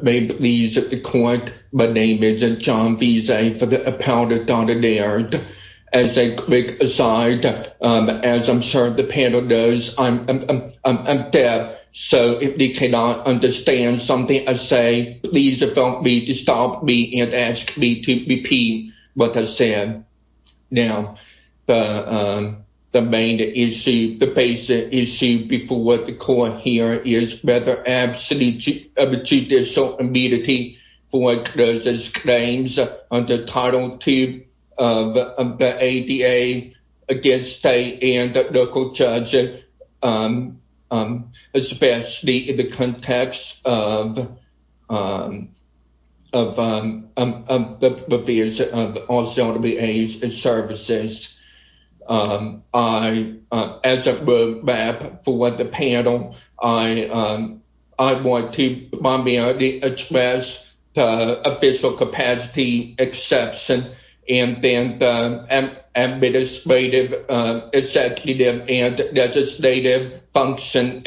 May it please the court, my name is John Veazey for the Appellate Dr. Laird. As a quick aside, as I'm sure the panel knows, I'm deaf, so if you cannot understand something I say, please don't be to stop me and ask me to repeat what I said. Now, the main issue, the basic issue before the court here is whether absolute judicial immunity for those claims under Title II of the ADA against state and local judges, especially in the context of the provisions of all CWAs and services. As a roadmap for the panel, I want to primarily address the official capacity exception and then the administrative executive and legislative function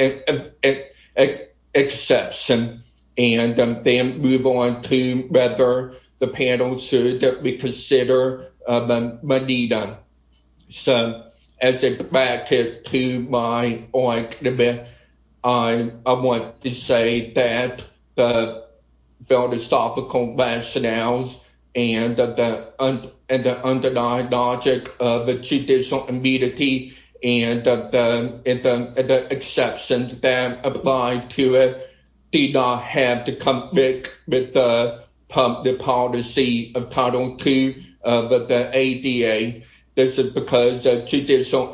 exception, and then move on to whether the panel should reconsider the Medina. So, as a bracket to my argument, I want to say that the philosophical rationales and the underlying logic of the judicial immunity and the exceptions that apply to it do not have to conflict with the public policy of Title II of the ADA. This is because judicial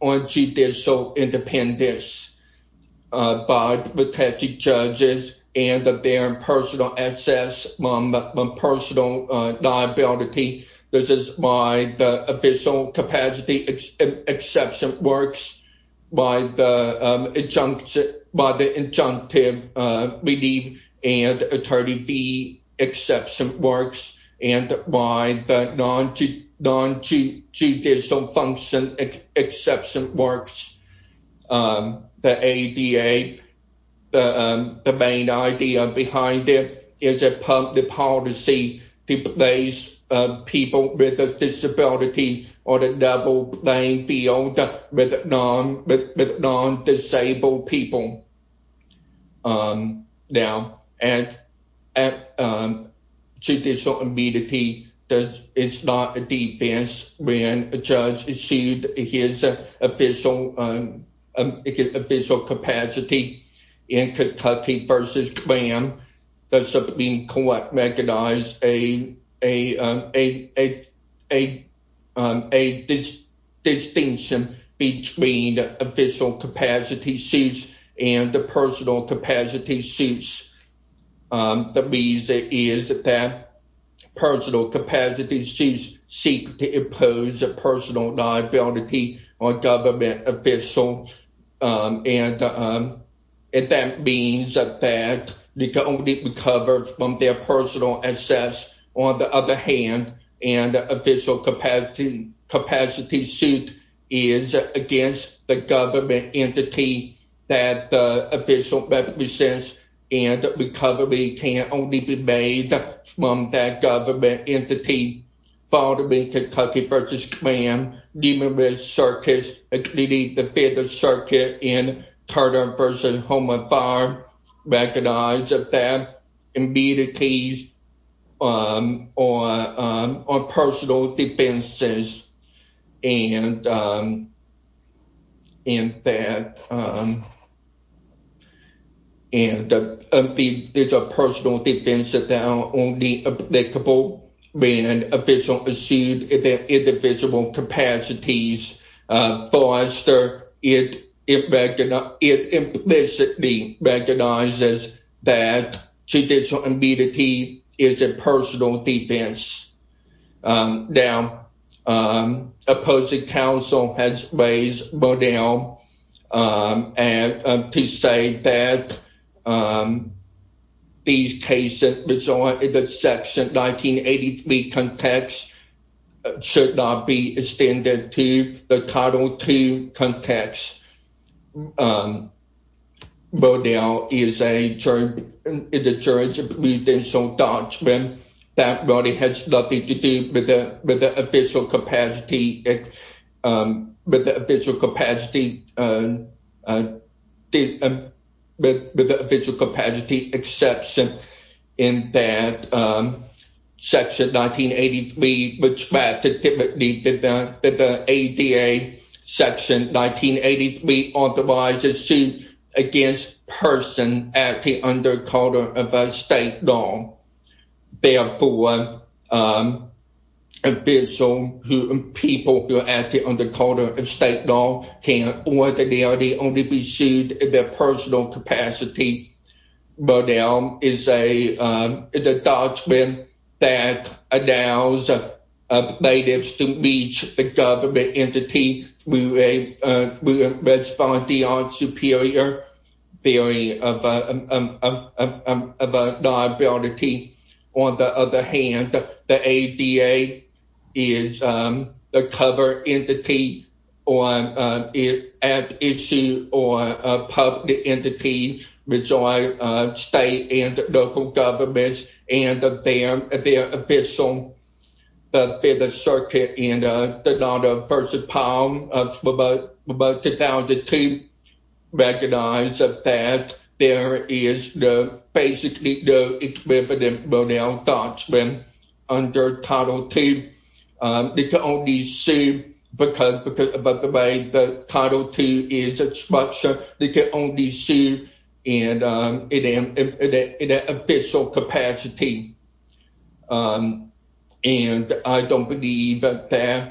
unjudicial independence by protected judges and their personal access, personal liability. This is why the official capacity exception works by the injunctive relief and attorney fee works and why the non-judicial function exception works. The ADA, the main idea behind it is the policy to place people with a disability on a level playing field with non-disabled people. Now, at judicial immunity, it's not a defense when a judge issued his official capacity in Kentucky versus Graham. That's being recognized as a distinction between the official capacity suits and the personal capacity suits. The reason is that personal capacity suits seek to impose a personal liability on government officials, and that means that they can only recover from their personal access. On the other hand, an official capacity suit is against the government entity that the official represents, and recovery can only be made from that government entity. Following Kentucky versus Graham, numerous circuits, including the Fifth Circuit and Carter versus Home and Farm, recognize that they're personal defenses and that there's a personal defense that they're only applicable when an official receives their individual capacities. For us, it implicitly recognizes that judicial Now, opposing counsel has raised Bodell to say that these cases in the Section 1983 context should not be extended to the Title II context. Bodell is a judge of judicial doctrine. That really has nothing to do with the official capacity exception in that Section 1983, which practically did the ADA Section 1983 authorized a suit against a person acting under Carter of a state law. Therefore, people who are acting under Carter of state law can ordinarily only be sued in their state. On the other hand, the ADA is a cover entity or an ad issue or a public entity with state and local governments and their official Fifth Circuit and the Carter versus Palm of about 2002 recognize that there is basically no equivalent Bodell doctrine under Title II. They can only sue because of the way the Title II is structured. They can only sue in an official capacity. I don't believe that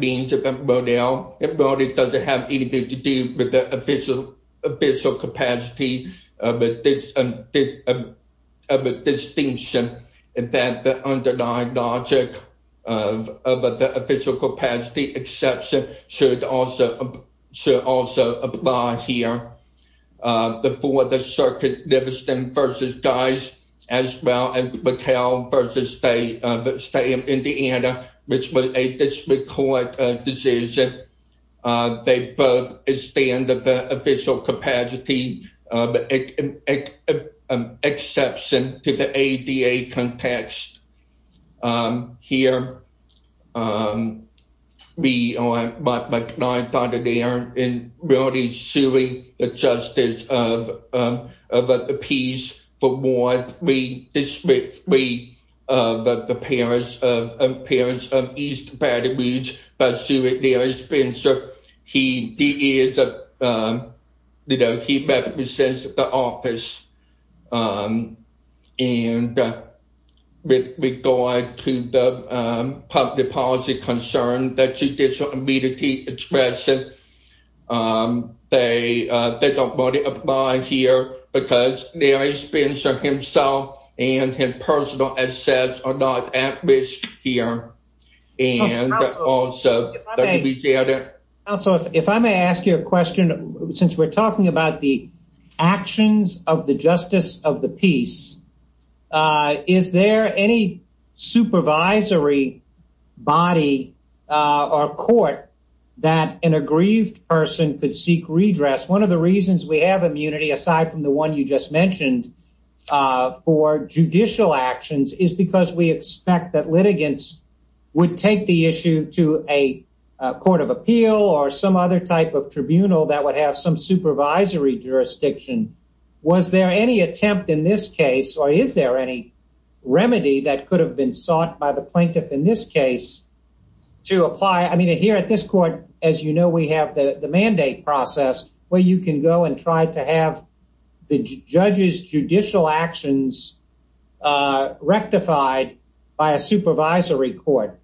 means that Bodell doesn't have anything to do with the official capacity of a distinction in that the underlying logic of the official exception should also apply here. For the Circuit Livingston v. Dice as well as McHale v. State of Indiana, which was a disrecorded decision, they both extended the official capacity of the exception to the ADA context. Here, we are McNaughton, and they are in reality suing the justice of the piece for warrant district 3 of the appearance of East Baton Rouge by Senator Larry Spencer. He represents the office. And with regard to the public policy concern that judicial and his personal assets are not at risk here. Also, if I may ask you a question, since we're talking about the actions of the justice of the piece, is there any supervisory body or court that an aggrieved person could seek redress? One of the reasons we have immunity, aside from the one you just mentioned, for judicial actions is because we expect that litigants would take the issue to a court of appeal or some other type of tribunal that would have some supervisory jurisdiction. Was there any attempt in this case or is there any remedy that could have been sought by the plaintiff in this case to apply? Here at this court, as you know, we have the mandate process where you can go and try to have the judge's judicial actions rectified by a supervisory court.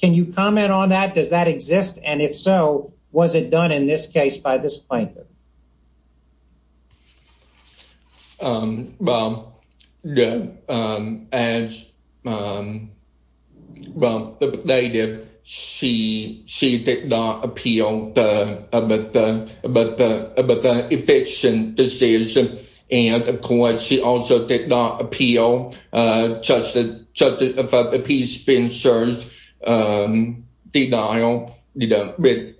Can you comment on that? Does that exist? And if so, was it done in this case by this plaintiff? As the plaintiff, she did not appeal the eviction decision. And of course, she also did not appeal the justice of the piece being served. Denial, you know, with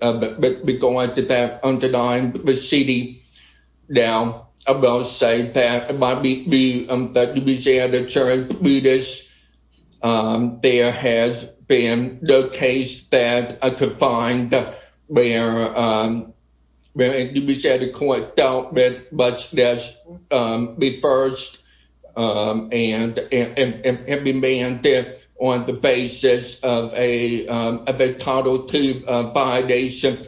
regard to that underlying proceeding. Now, I will say that, there has been no case that I could find where the court dealt with much less reversed and remanded on the basis of a title two violation.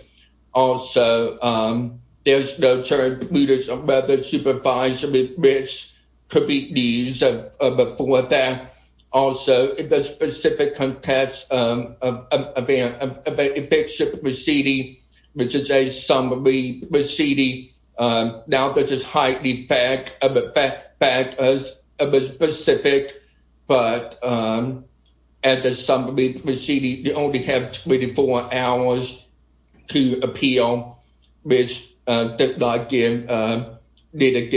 Also, there's no term, prudence, or whether supervisory risk could be used for that. Also, in the specific context of an eviction proceeding, which is a summary proceeding, now this is highly fact specific, but as a summary proceeding, you only have 24 hours to appeal, which did not get done. But she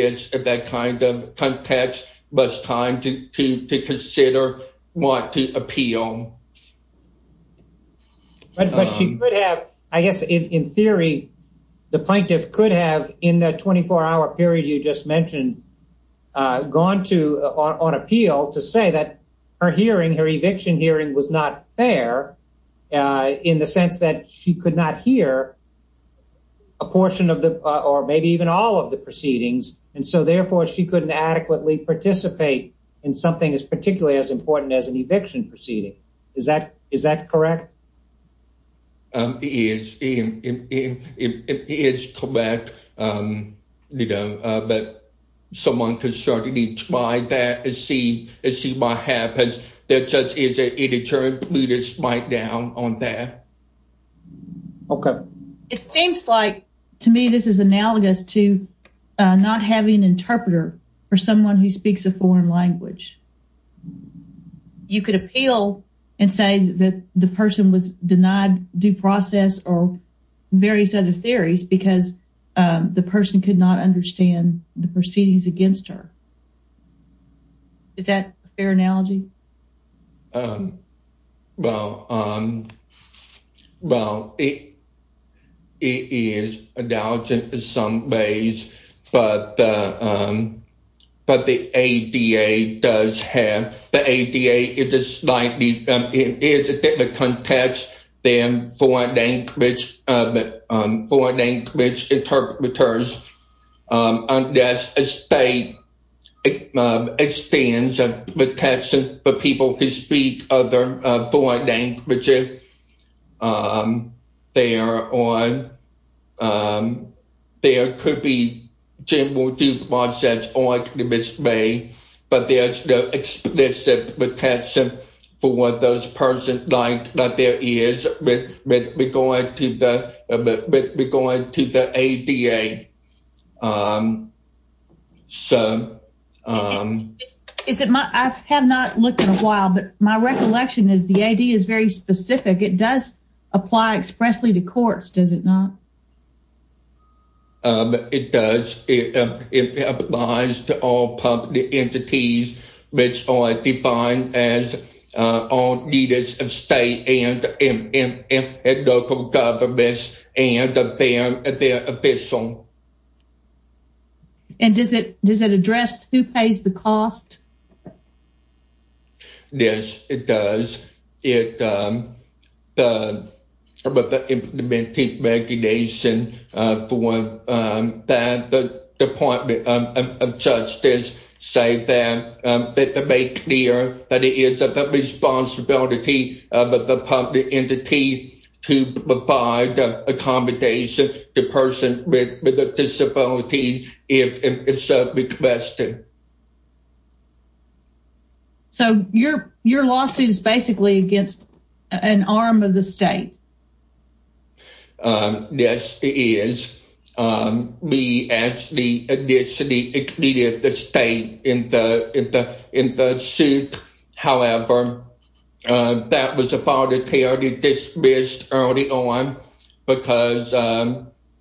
could have, I guess in theory, the plaintiff could have in that 24 hour period you just mentioned, gone to on appeal to say that her hearing, her eviction hearing was not fair in the sense that she could not hear a portion of the, or maybe even all of the proceedings. And so therefore, she couldn't adequately participate in something as particularly as an eviction proceeding. Is that correct? It is. It is correct. You know, but someone could certainly try that and see what happens. There just is a deterrent prudence right down on that. Okay. It seems like to me, this is analogous to not having an interpreter for someone who you could appeal and say that the person was denied due process or various other theories because the person could not understand the proceedings against her. Is that a fair analogy? Well, it is analogous in some ways, but the ADA does have, the ADA is a slightly, it is a different context than foreign language interpreters, unless a state extends a protection for people who speak other foreign languages. There could be general due process arguments made, but there's no explicit protection for them. I have not looked in a while, but my recollection is the ADA is very specific. It does apply expressly to courts, does it not? It does. It applies to all public entities, which are defined as all leaders of state and local governments and their officials. And does it address who pays the cost? Yes, it does. The implementing regulation for the Department of Justice say that, that they make clear that it is the responsibility of the public entity to provide the accommodation to a person with a disability if it's requested. So your lawsuit is basically against an arm of the state? Yes, it is. We actually initially included the state in the suit. However, that was a file to be dismissed early on, because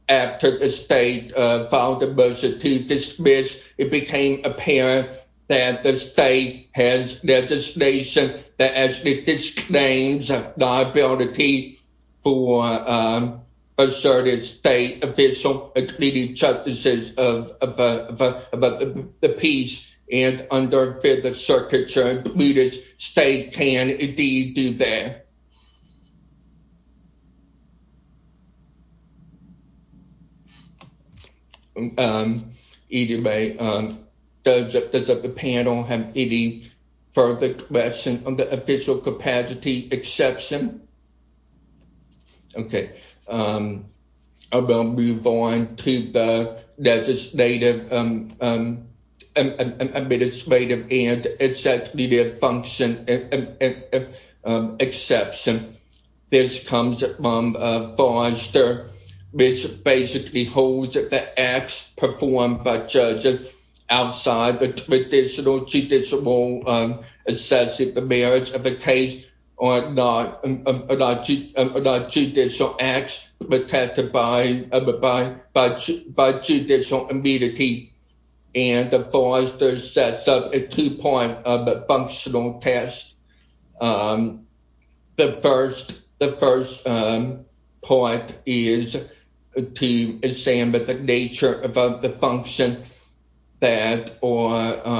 after the state filed a motion to dismiss, it became apparent that the state has legislation that actually disclaims the liability for asserted state official, including justices of the peace and under the circumstances included, the state can indeed do that. Either way, does the panel have any further questions on the official capacity exception? Okay, I will move on to the legislative and administrative function exception. This comes from Forrester, which basically holds that the acts performed by judges outside the traditional judicial assessment of the merits of a case are not judicial acts protected by judicial immunity. And Forrester sets up a two-part functional test. The first part is to examine the nature of the function that are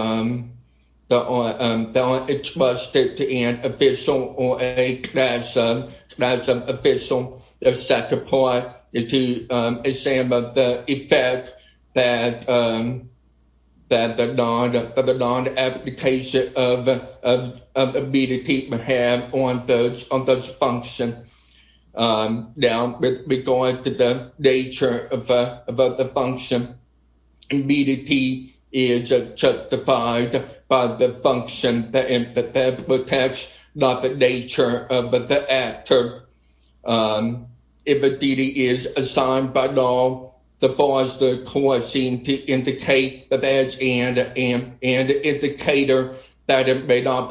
requested to an official or a class of official. The second part is to examine the effect that the non-application of immunity may have on this function. Now, with regard to the nature of the function, immunity is justified by the function that protects, not the nature of the function, and the indicator that it may not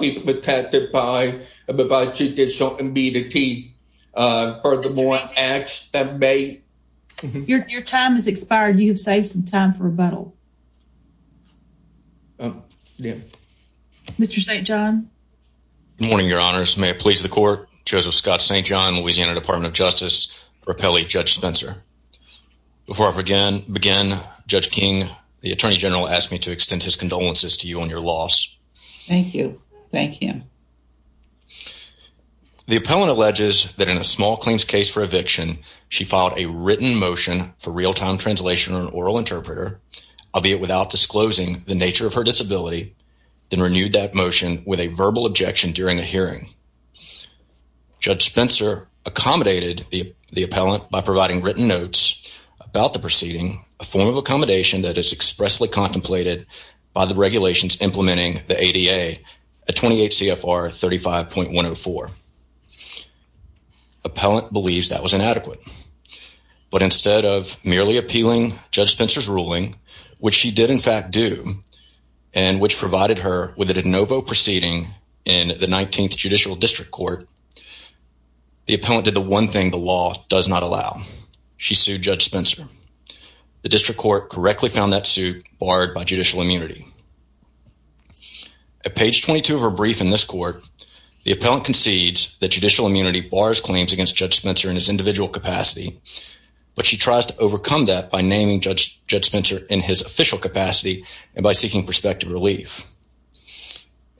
be protected by judicial immunity. Your time has expired. You have saved some time for rebuttal. Mr. St. John. Good morning, your honors. May it please the court, Joseph Scott St. John, Louisiana Department of Justice for Appellee Judge Spencer. Before I begin, Judge King, the Attorney General asked me to extend his condolences to you on your loss. Thank you. Thank you. The appellant alleges that in a small claims case for eviction, she filed a written motion for real-time translation or an oral interpreter, albeit without disclosing the nature of her disability, then renewed that motion with a verbal objection during a hearing. Judge Spencer accommodated the appellant by providing written notes about the proceeding, a form of accommodation that is expressly contemplated by the regulations implementing the ADA at 28 CFR 35.104. Appellant believes that was inadequate, but instead of merely appealing Judge Spencer's ruling, which she did in fact do, and which provided her with a de novo proceeding in the 19th Judicial District Court, the appellant did the one thing the law does not allow. She sued Judge Spencer. The district court correctly found that suit barred by judicial immunity. At page 22 of her brief in this court, the appellant concedes that judicial immunity bars claims against Judge Spencer in his individual capacity, but she tries to overcome that by naming Judge Spencer in his official capacity and by seeking prospective relief.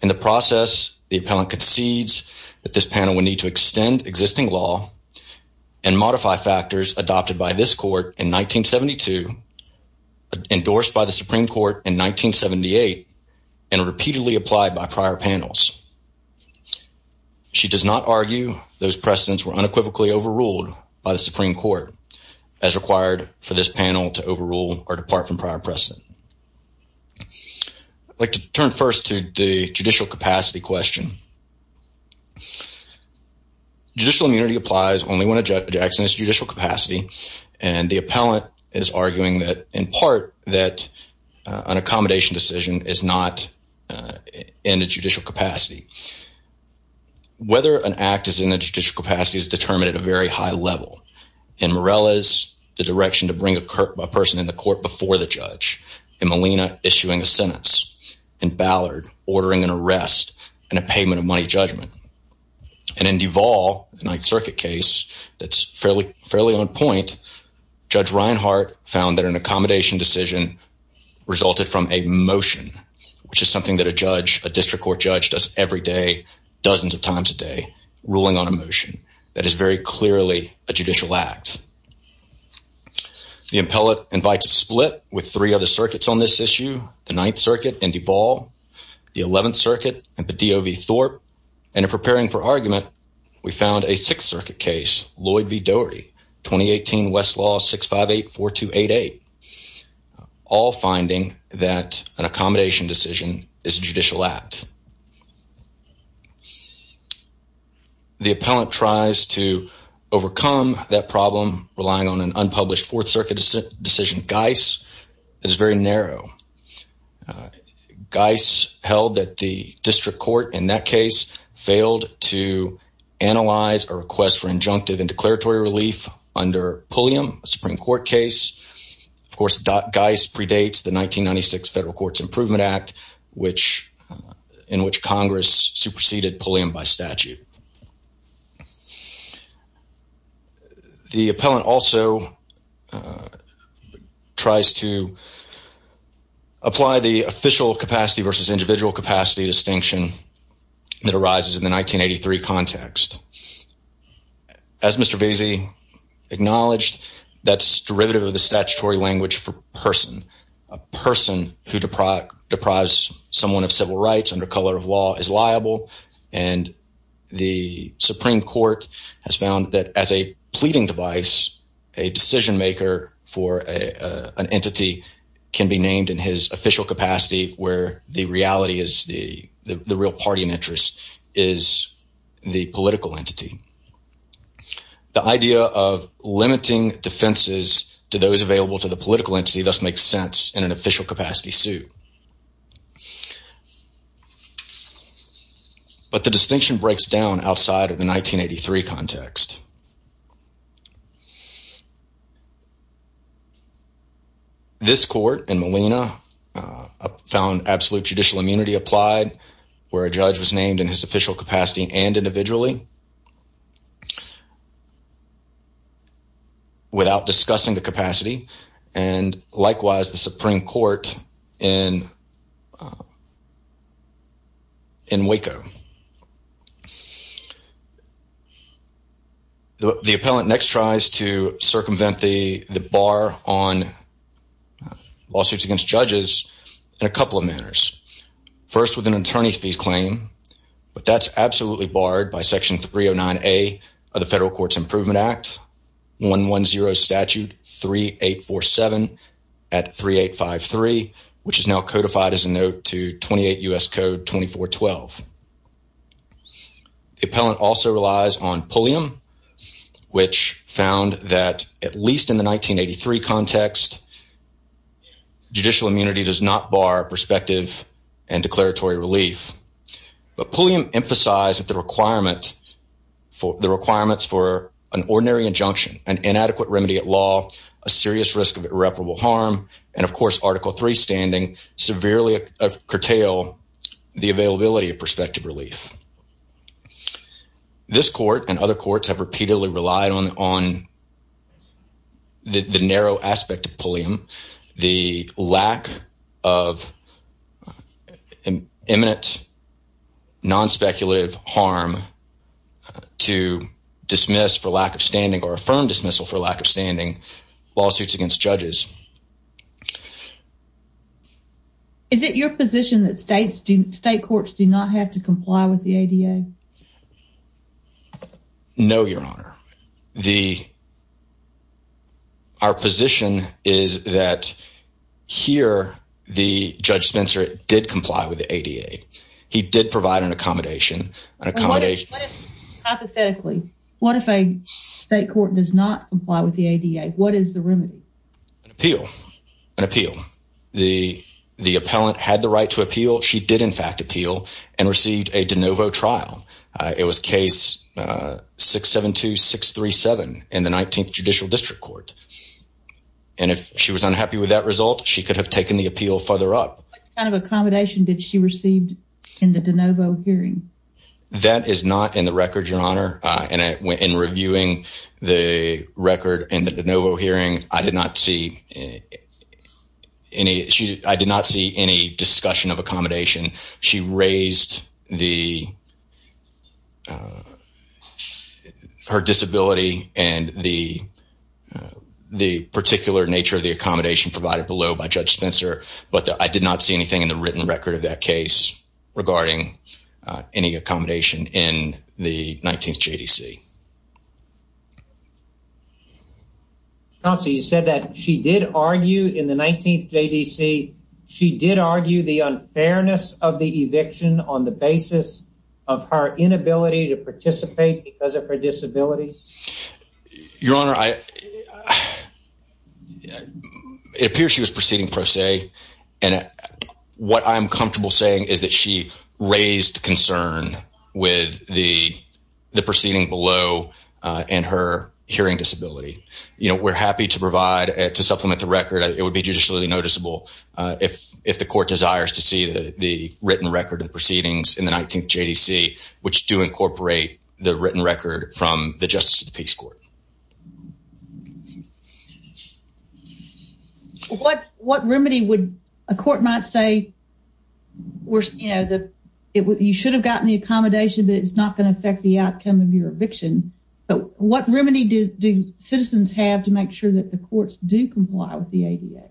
In the process, the appellant concedes that this panel would need to extend existing law and modify factors adopted by this court in 1972, endorsed by the Supreme Court in 1978, and repeatedly applied by prior panels. She does not argue those precedents were unequivocally overruled by the Supreme Court as required for this panel to overrule or depart from prior precedent. I'd like to turn first to the judicial capacity question. Judicial immunity applies only when a judge acts in his judicial capacity, and the appellant is arguing that, in part, that an accommodation decision is not in a judicial capacity. Whether an act is in a judicial capacity is determined at a very high level. In Morella's, the direction to bring a person in the court before the judge. In Molina, issuing a sentence. In Ballard, ordering an arrest and a payment of money judgment. And in Duvall, the Ninth Circuit case, that's fairly on point, Judge Reinhart found that an accommodation decision resulted from a motion, which is something that a judge, a district court does every day, dozens of times a day, ruling on a motion that is very clearly a judicial act. The appellate invites a split with three other circuits on this issue, the Ninth Circuit and Duvall, the Eleventh Circuit and the DOV Thorpe, and in preparing for argument, we found a Sixth Circuit case, Lloyd v. Doherty, 2018 Westlaw 658-4288, all finding that an accommodation decision is a judicial act. The appellant tries to overcome that problem, relying on an unpublished Fourth Circuit decision. Geis is very narrow. Geis held that the district court, in that case, failed to analyze a request for injunctive and declaratory relief under Pulliam, a Supreme Court case. Of course, Geis predates the 1996 Federal Courts Improvement Act, in which Congress superseded Pulliam by statute. The appellant also tries to apply the official capacity versus individual capacity distinction that arises in the 1983 context. As Mr. Veazey acknowledged, that's derivative of the statutory language for person. A person who deprives someone of civil rights under color of law is liable, and the Supreme Court has found that as a pleading device, a decision maker for an entity can be named in his official capacity, where the reality is the real party in interest is the political entity. The idea of limiting defenses to those available to the political entity thus makes sense in an official capacity suit, but the distinction breaks down This court in Molina found absolute judicial immunity applied, where a judge was named in his official capacity and individually without discussing the capacity, and likewise the Supreme Court in Waco. The appellant next tries to circumvent the bar on lawsuits against judges in a couple of manners. First, with an attorney fee claim, but that's absolutely barred by section 309A of the Federal Courts Improvement Act, 110 statute 3847 at 3853, which is now codified as a note to 28 U.S. Code 2412. The appellant also relies on Pulliam, which found that at least in the 1983 context, judicial immunity does not bar prospective and declaratory relief, but Pulliam emphasized that the requirements for an ordinary injunction, an inadequate remedy at law, a serious risk of irreparable harm, and of course article 3 standing, severely curtail the availability of prospective relief. This court and other courts have repeatedly relied on the narrow aspect of Pulliam, the lack of imminent non-speculative harm to dismiss for lack of standing or affirm dismissal for lack of standing lawsuits against judges. Is it your position that state courts do not have to comply with the ADA? No, your honor. The, our position is that here the judge Spencer did comply with the ADA. He did provide an accommodation, an accommodation hypothetically. What if a state court does not comply with the ADA? What is the remedy? An appeal, an appeal. The, the appellant had the right to It was case 672637 in the 19th Judicial District Court. And if she was unhappy with that result, she could have taken the appeal further up. What kind of accommodation did she receive in the DeNovo hearing? That is not in the record, your honor. And in reviewing the record in the DeNovo hearing, I did not see any, she, I did not see any discussion of accommodation. She raised the her disability and the, the particular nature of the accommodation provided below by judge Spencer, but I did not see anything in the written record of that case regarding any accommodation in the 19th JDC. Counselor, you said that she did argue in the 19th JDC, she did argue the unfairness of the inability to participate because of her disability? Your honor, I, it appears she was proceeding pro se. And what I'm comfortable saying is that she raised concern with the, the proceeding below and her hearing disability. You know, we're happy to provide, to supplement the record. It would be judicially noticeable if the court desires to see the written record of the proceedings in the 19th JDC. Which do incorporate the written record from the justice of the peace court. What, what remedy would a court might say, we're, you know, the, it would, you should have gotten the accommodation, but it's not going to affect the outcome of your eviction. But what remedy do, do citizens have to make sure that the courts do comply with the ADA?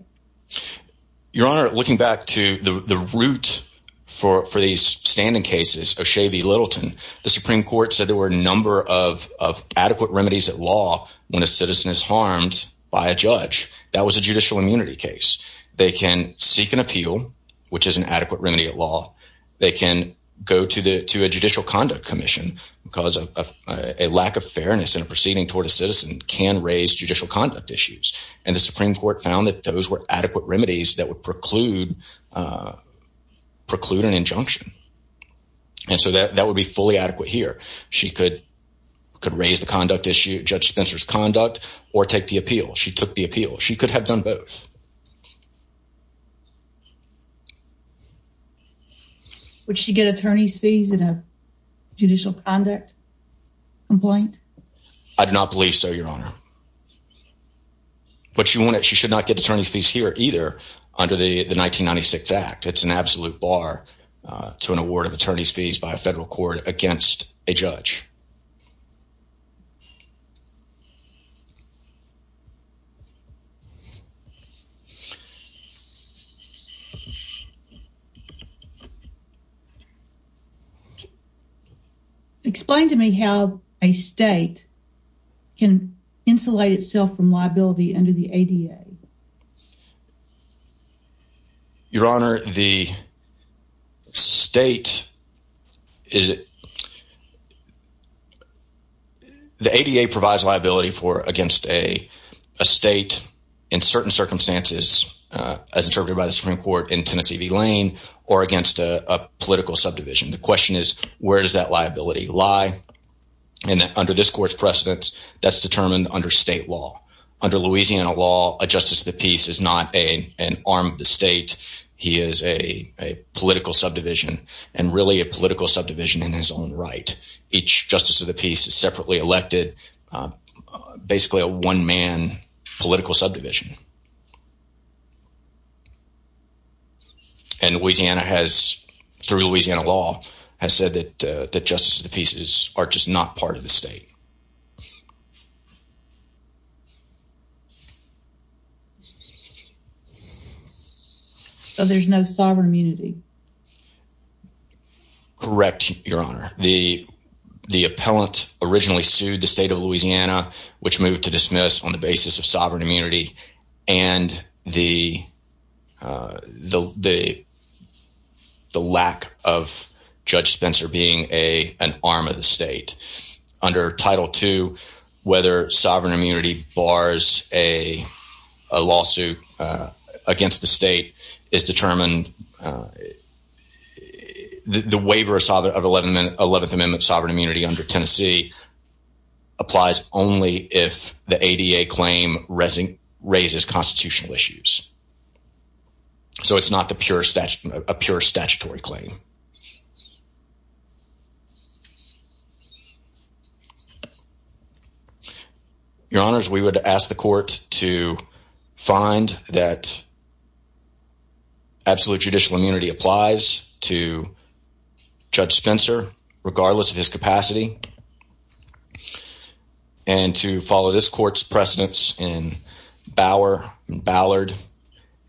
Your honor, looking back to the, the root for, for these standing cases of Shavey Littleton, the Supreme court said there were a number of, of adequate remedies at law. When a citizen is harmed by a judge, that was a judicial immunity case. They can seek an appeal, which is an adequate remedy at law. They can go to the, to a judicial conduct commission because of a lack of fairness in a proceeding toward a citizen can raise judicial conduct issues. And the Supreme court found that those were adequate remedies that would preclude, preclude an injunction. And so that, that would be fully adequate here. She could, could raise the conduct issue, judge Spencer's conduct, or take the appeal. She took the appeal. She could have done both. Would she get attorney's fees in a judicial conduct complaint? I do not believe so, your honor. But she won't, she should not get attorney's fees here either under the 1996 act. It's an absolute bar to an award of attorney's fees by a federal court against a judge. Okay. Explain to me how a state can insulate itself from liability under the ADA. Your honor, the state is it, the ADA provides liability for against a state in certain circumstances, as interpreted by the Supreme court in Tennessee v. Lane or against a political subdivision. The question is, where does that liability lie? And under this court's precedence, that's determined under state law. Under Louisiana law, a justice of the peace is not a, an arm of the state. He is a, a political subdivision and really a political subdivision in his own right. Each justice of the peace is separately elected, basically a one man political subdivision. And Louisiana has, through Louisiana law, has said that the justice of the pieces are just not part of the state. So there's no sovereign immunity. Correct. Your honor, the, the appellant originally sued the state of Louisiana, which moved to dismiss on the basis of sovereign immunity and the, the, the, the lack of judge Spencer being a, an arm of the state under title two, whether sovereign immunity bars a, a lawsuit against the state is determined. The waiver of 11, 11th amendment sovereign immunity under Tennessee applies only if the ADA claim resin raises constitutional issues. So it's not the pure statute, a pure statutory claim. Your honors, we would ask the court to find that absolute judicial immunity applies to judge Spencer, regardless of his capacity. And to follow this court's precedence in Bauer and Ballard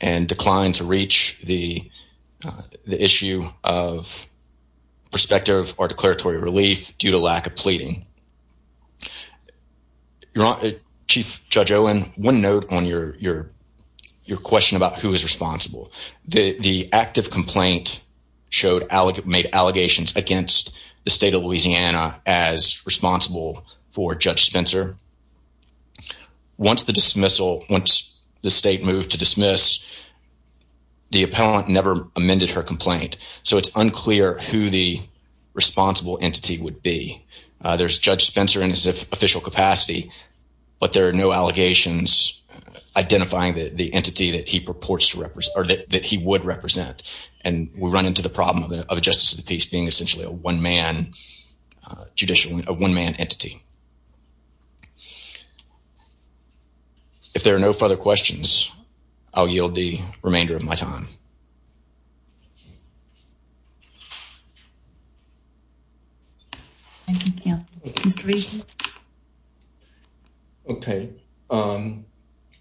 and decline to reach the, the issue of perspective or declaratory relief due to lack of pleading. Your honor, Chief Judge Owen, one note on your, your, your question about who is responsible. The, the active complaint showed, made allegations against the state of Louisiana as responsible for judge Spencer. Once the dismissal, once the state moved to dismiss, the appellant never amended her complaint. So it's unclear who the responsible entity would be. There's judge Spencer in his official capacity, but there are no allegations identifying the entity that he purports to represent or that he would represent. And we run into the problem of a justice of the peace being essentially a one man judicial, a one man entity. If there are no further questions, I'll yield the remainder of my time. Thank you. Mr. Regan. Okay.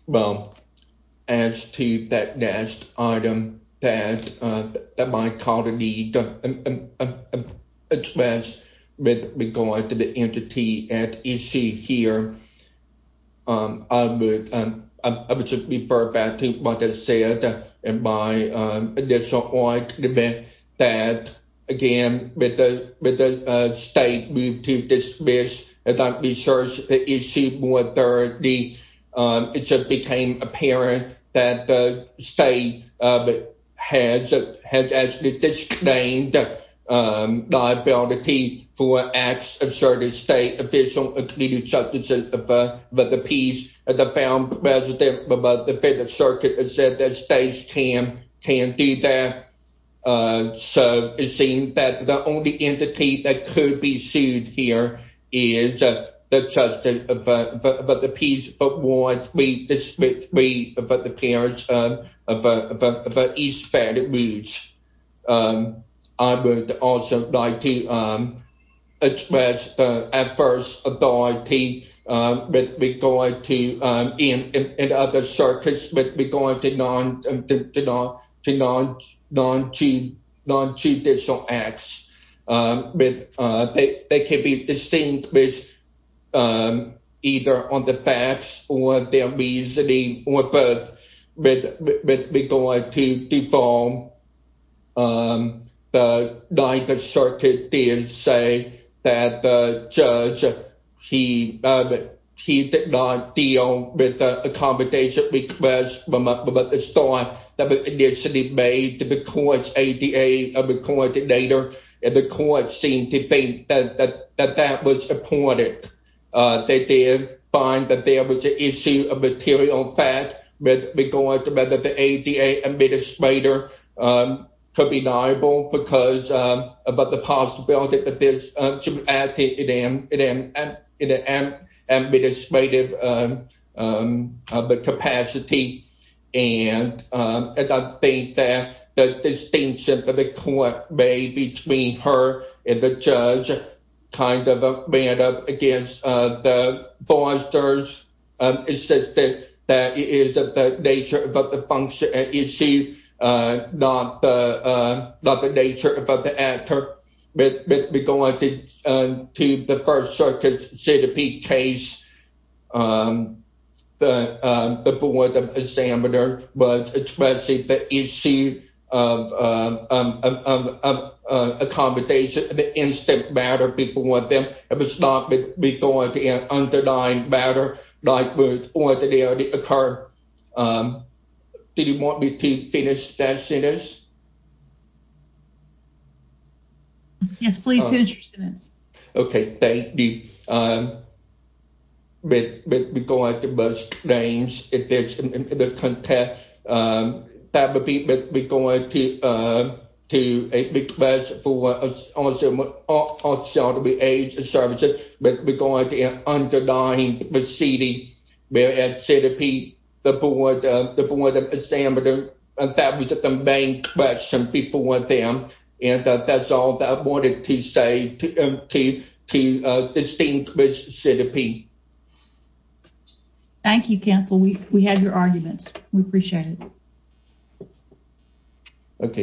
Well, as to that last item that my colleague expressed with regard to the entity at issue here, I would, I would just refer back to what I said in my initial argument that, again, with the, with the state move to dismiss, and that reassures the issue more thoroughly. It just became apparent that the state has, has actually disclaimed the liability for acts of certain state official, including the justice of the peace, the found president of the Fifth Circuit said that states can, can do that. So it seems that the only entity that could be sued here is the justice of the peace. But once we dismiss, we, but the parents of, of, of, of East Baton Rouge, I would also like to express adverse authority with regard to, in, in other circuits, with regard to non, to non, to non, non-judicial acts. They can be distinguished either on the facts or their reasoning, or both with, with regard to default. The Ninth Circuit did say that the judge, he, he did not deal with the accommodation request from the start that was initially made to the court's ADA coordinator, and the court seemed to think that, that, that that was important. They did find that there was an issue of material fact with regard to whether the ADA administrator could be liable because of the possibility that this should be acted in an, in an, in an administrative capacity. And I think that the distinction that the court made between her and the judge kind of ran up against the that it is the nature of the function issue, not the, not the nature of the actor. But with regard to the First Circuit's Citipede case, the, the board of examiner was expressing the issue of, of, of, of accommodation, the instant matter before them. It was not going to be an underlying matter, like with what had already occurred. Did you want me to finish that sentence? Yes, please finish your sentence. Okay, thank you. With, with regard to both names, if there's, in the context, that would be with regard to, to a request for auxiliary, auxiliary aids and services with regard to an underlying proceeding, whereas Citipede, the board, the board of examiner, that was the main question before them. And that's all that I wanted to say to, to, to distinguish Citipede. Thank you, counsel. We, we had your arguments. We appreciate it. Okay.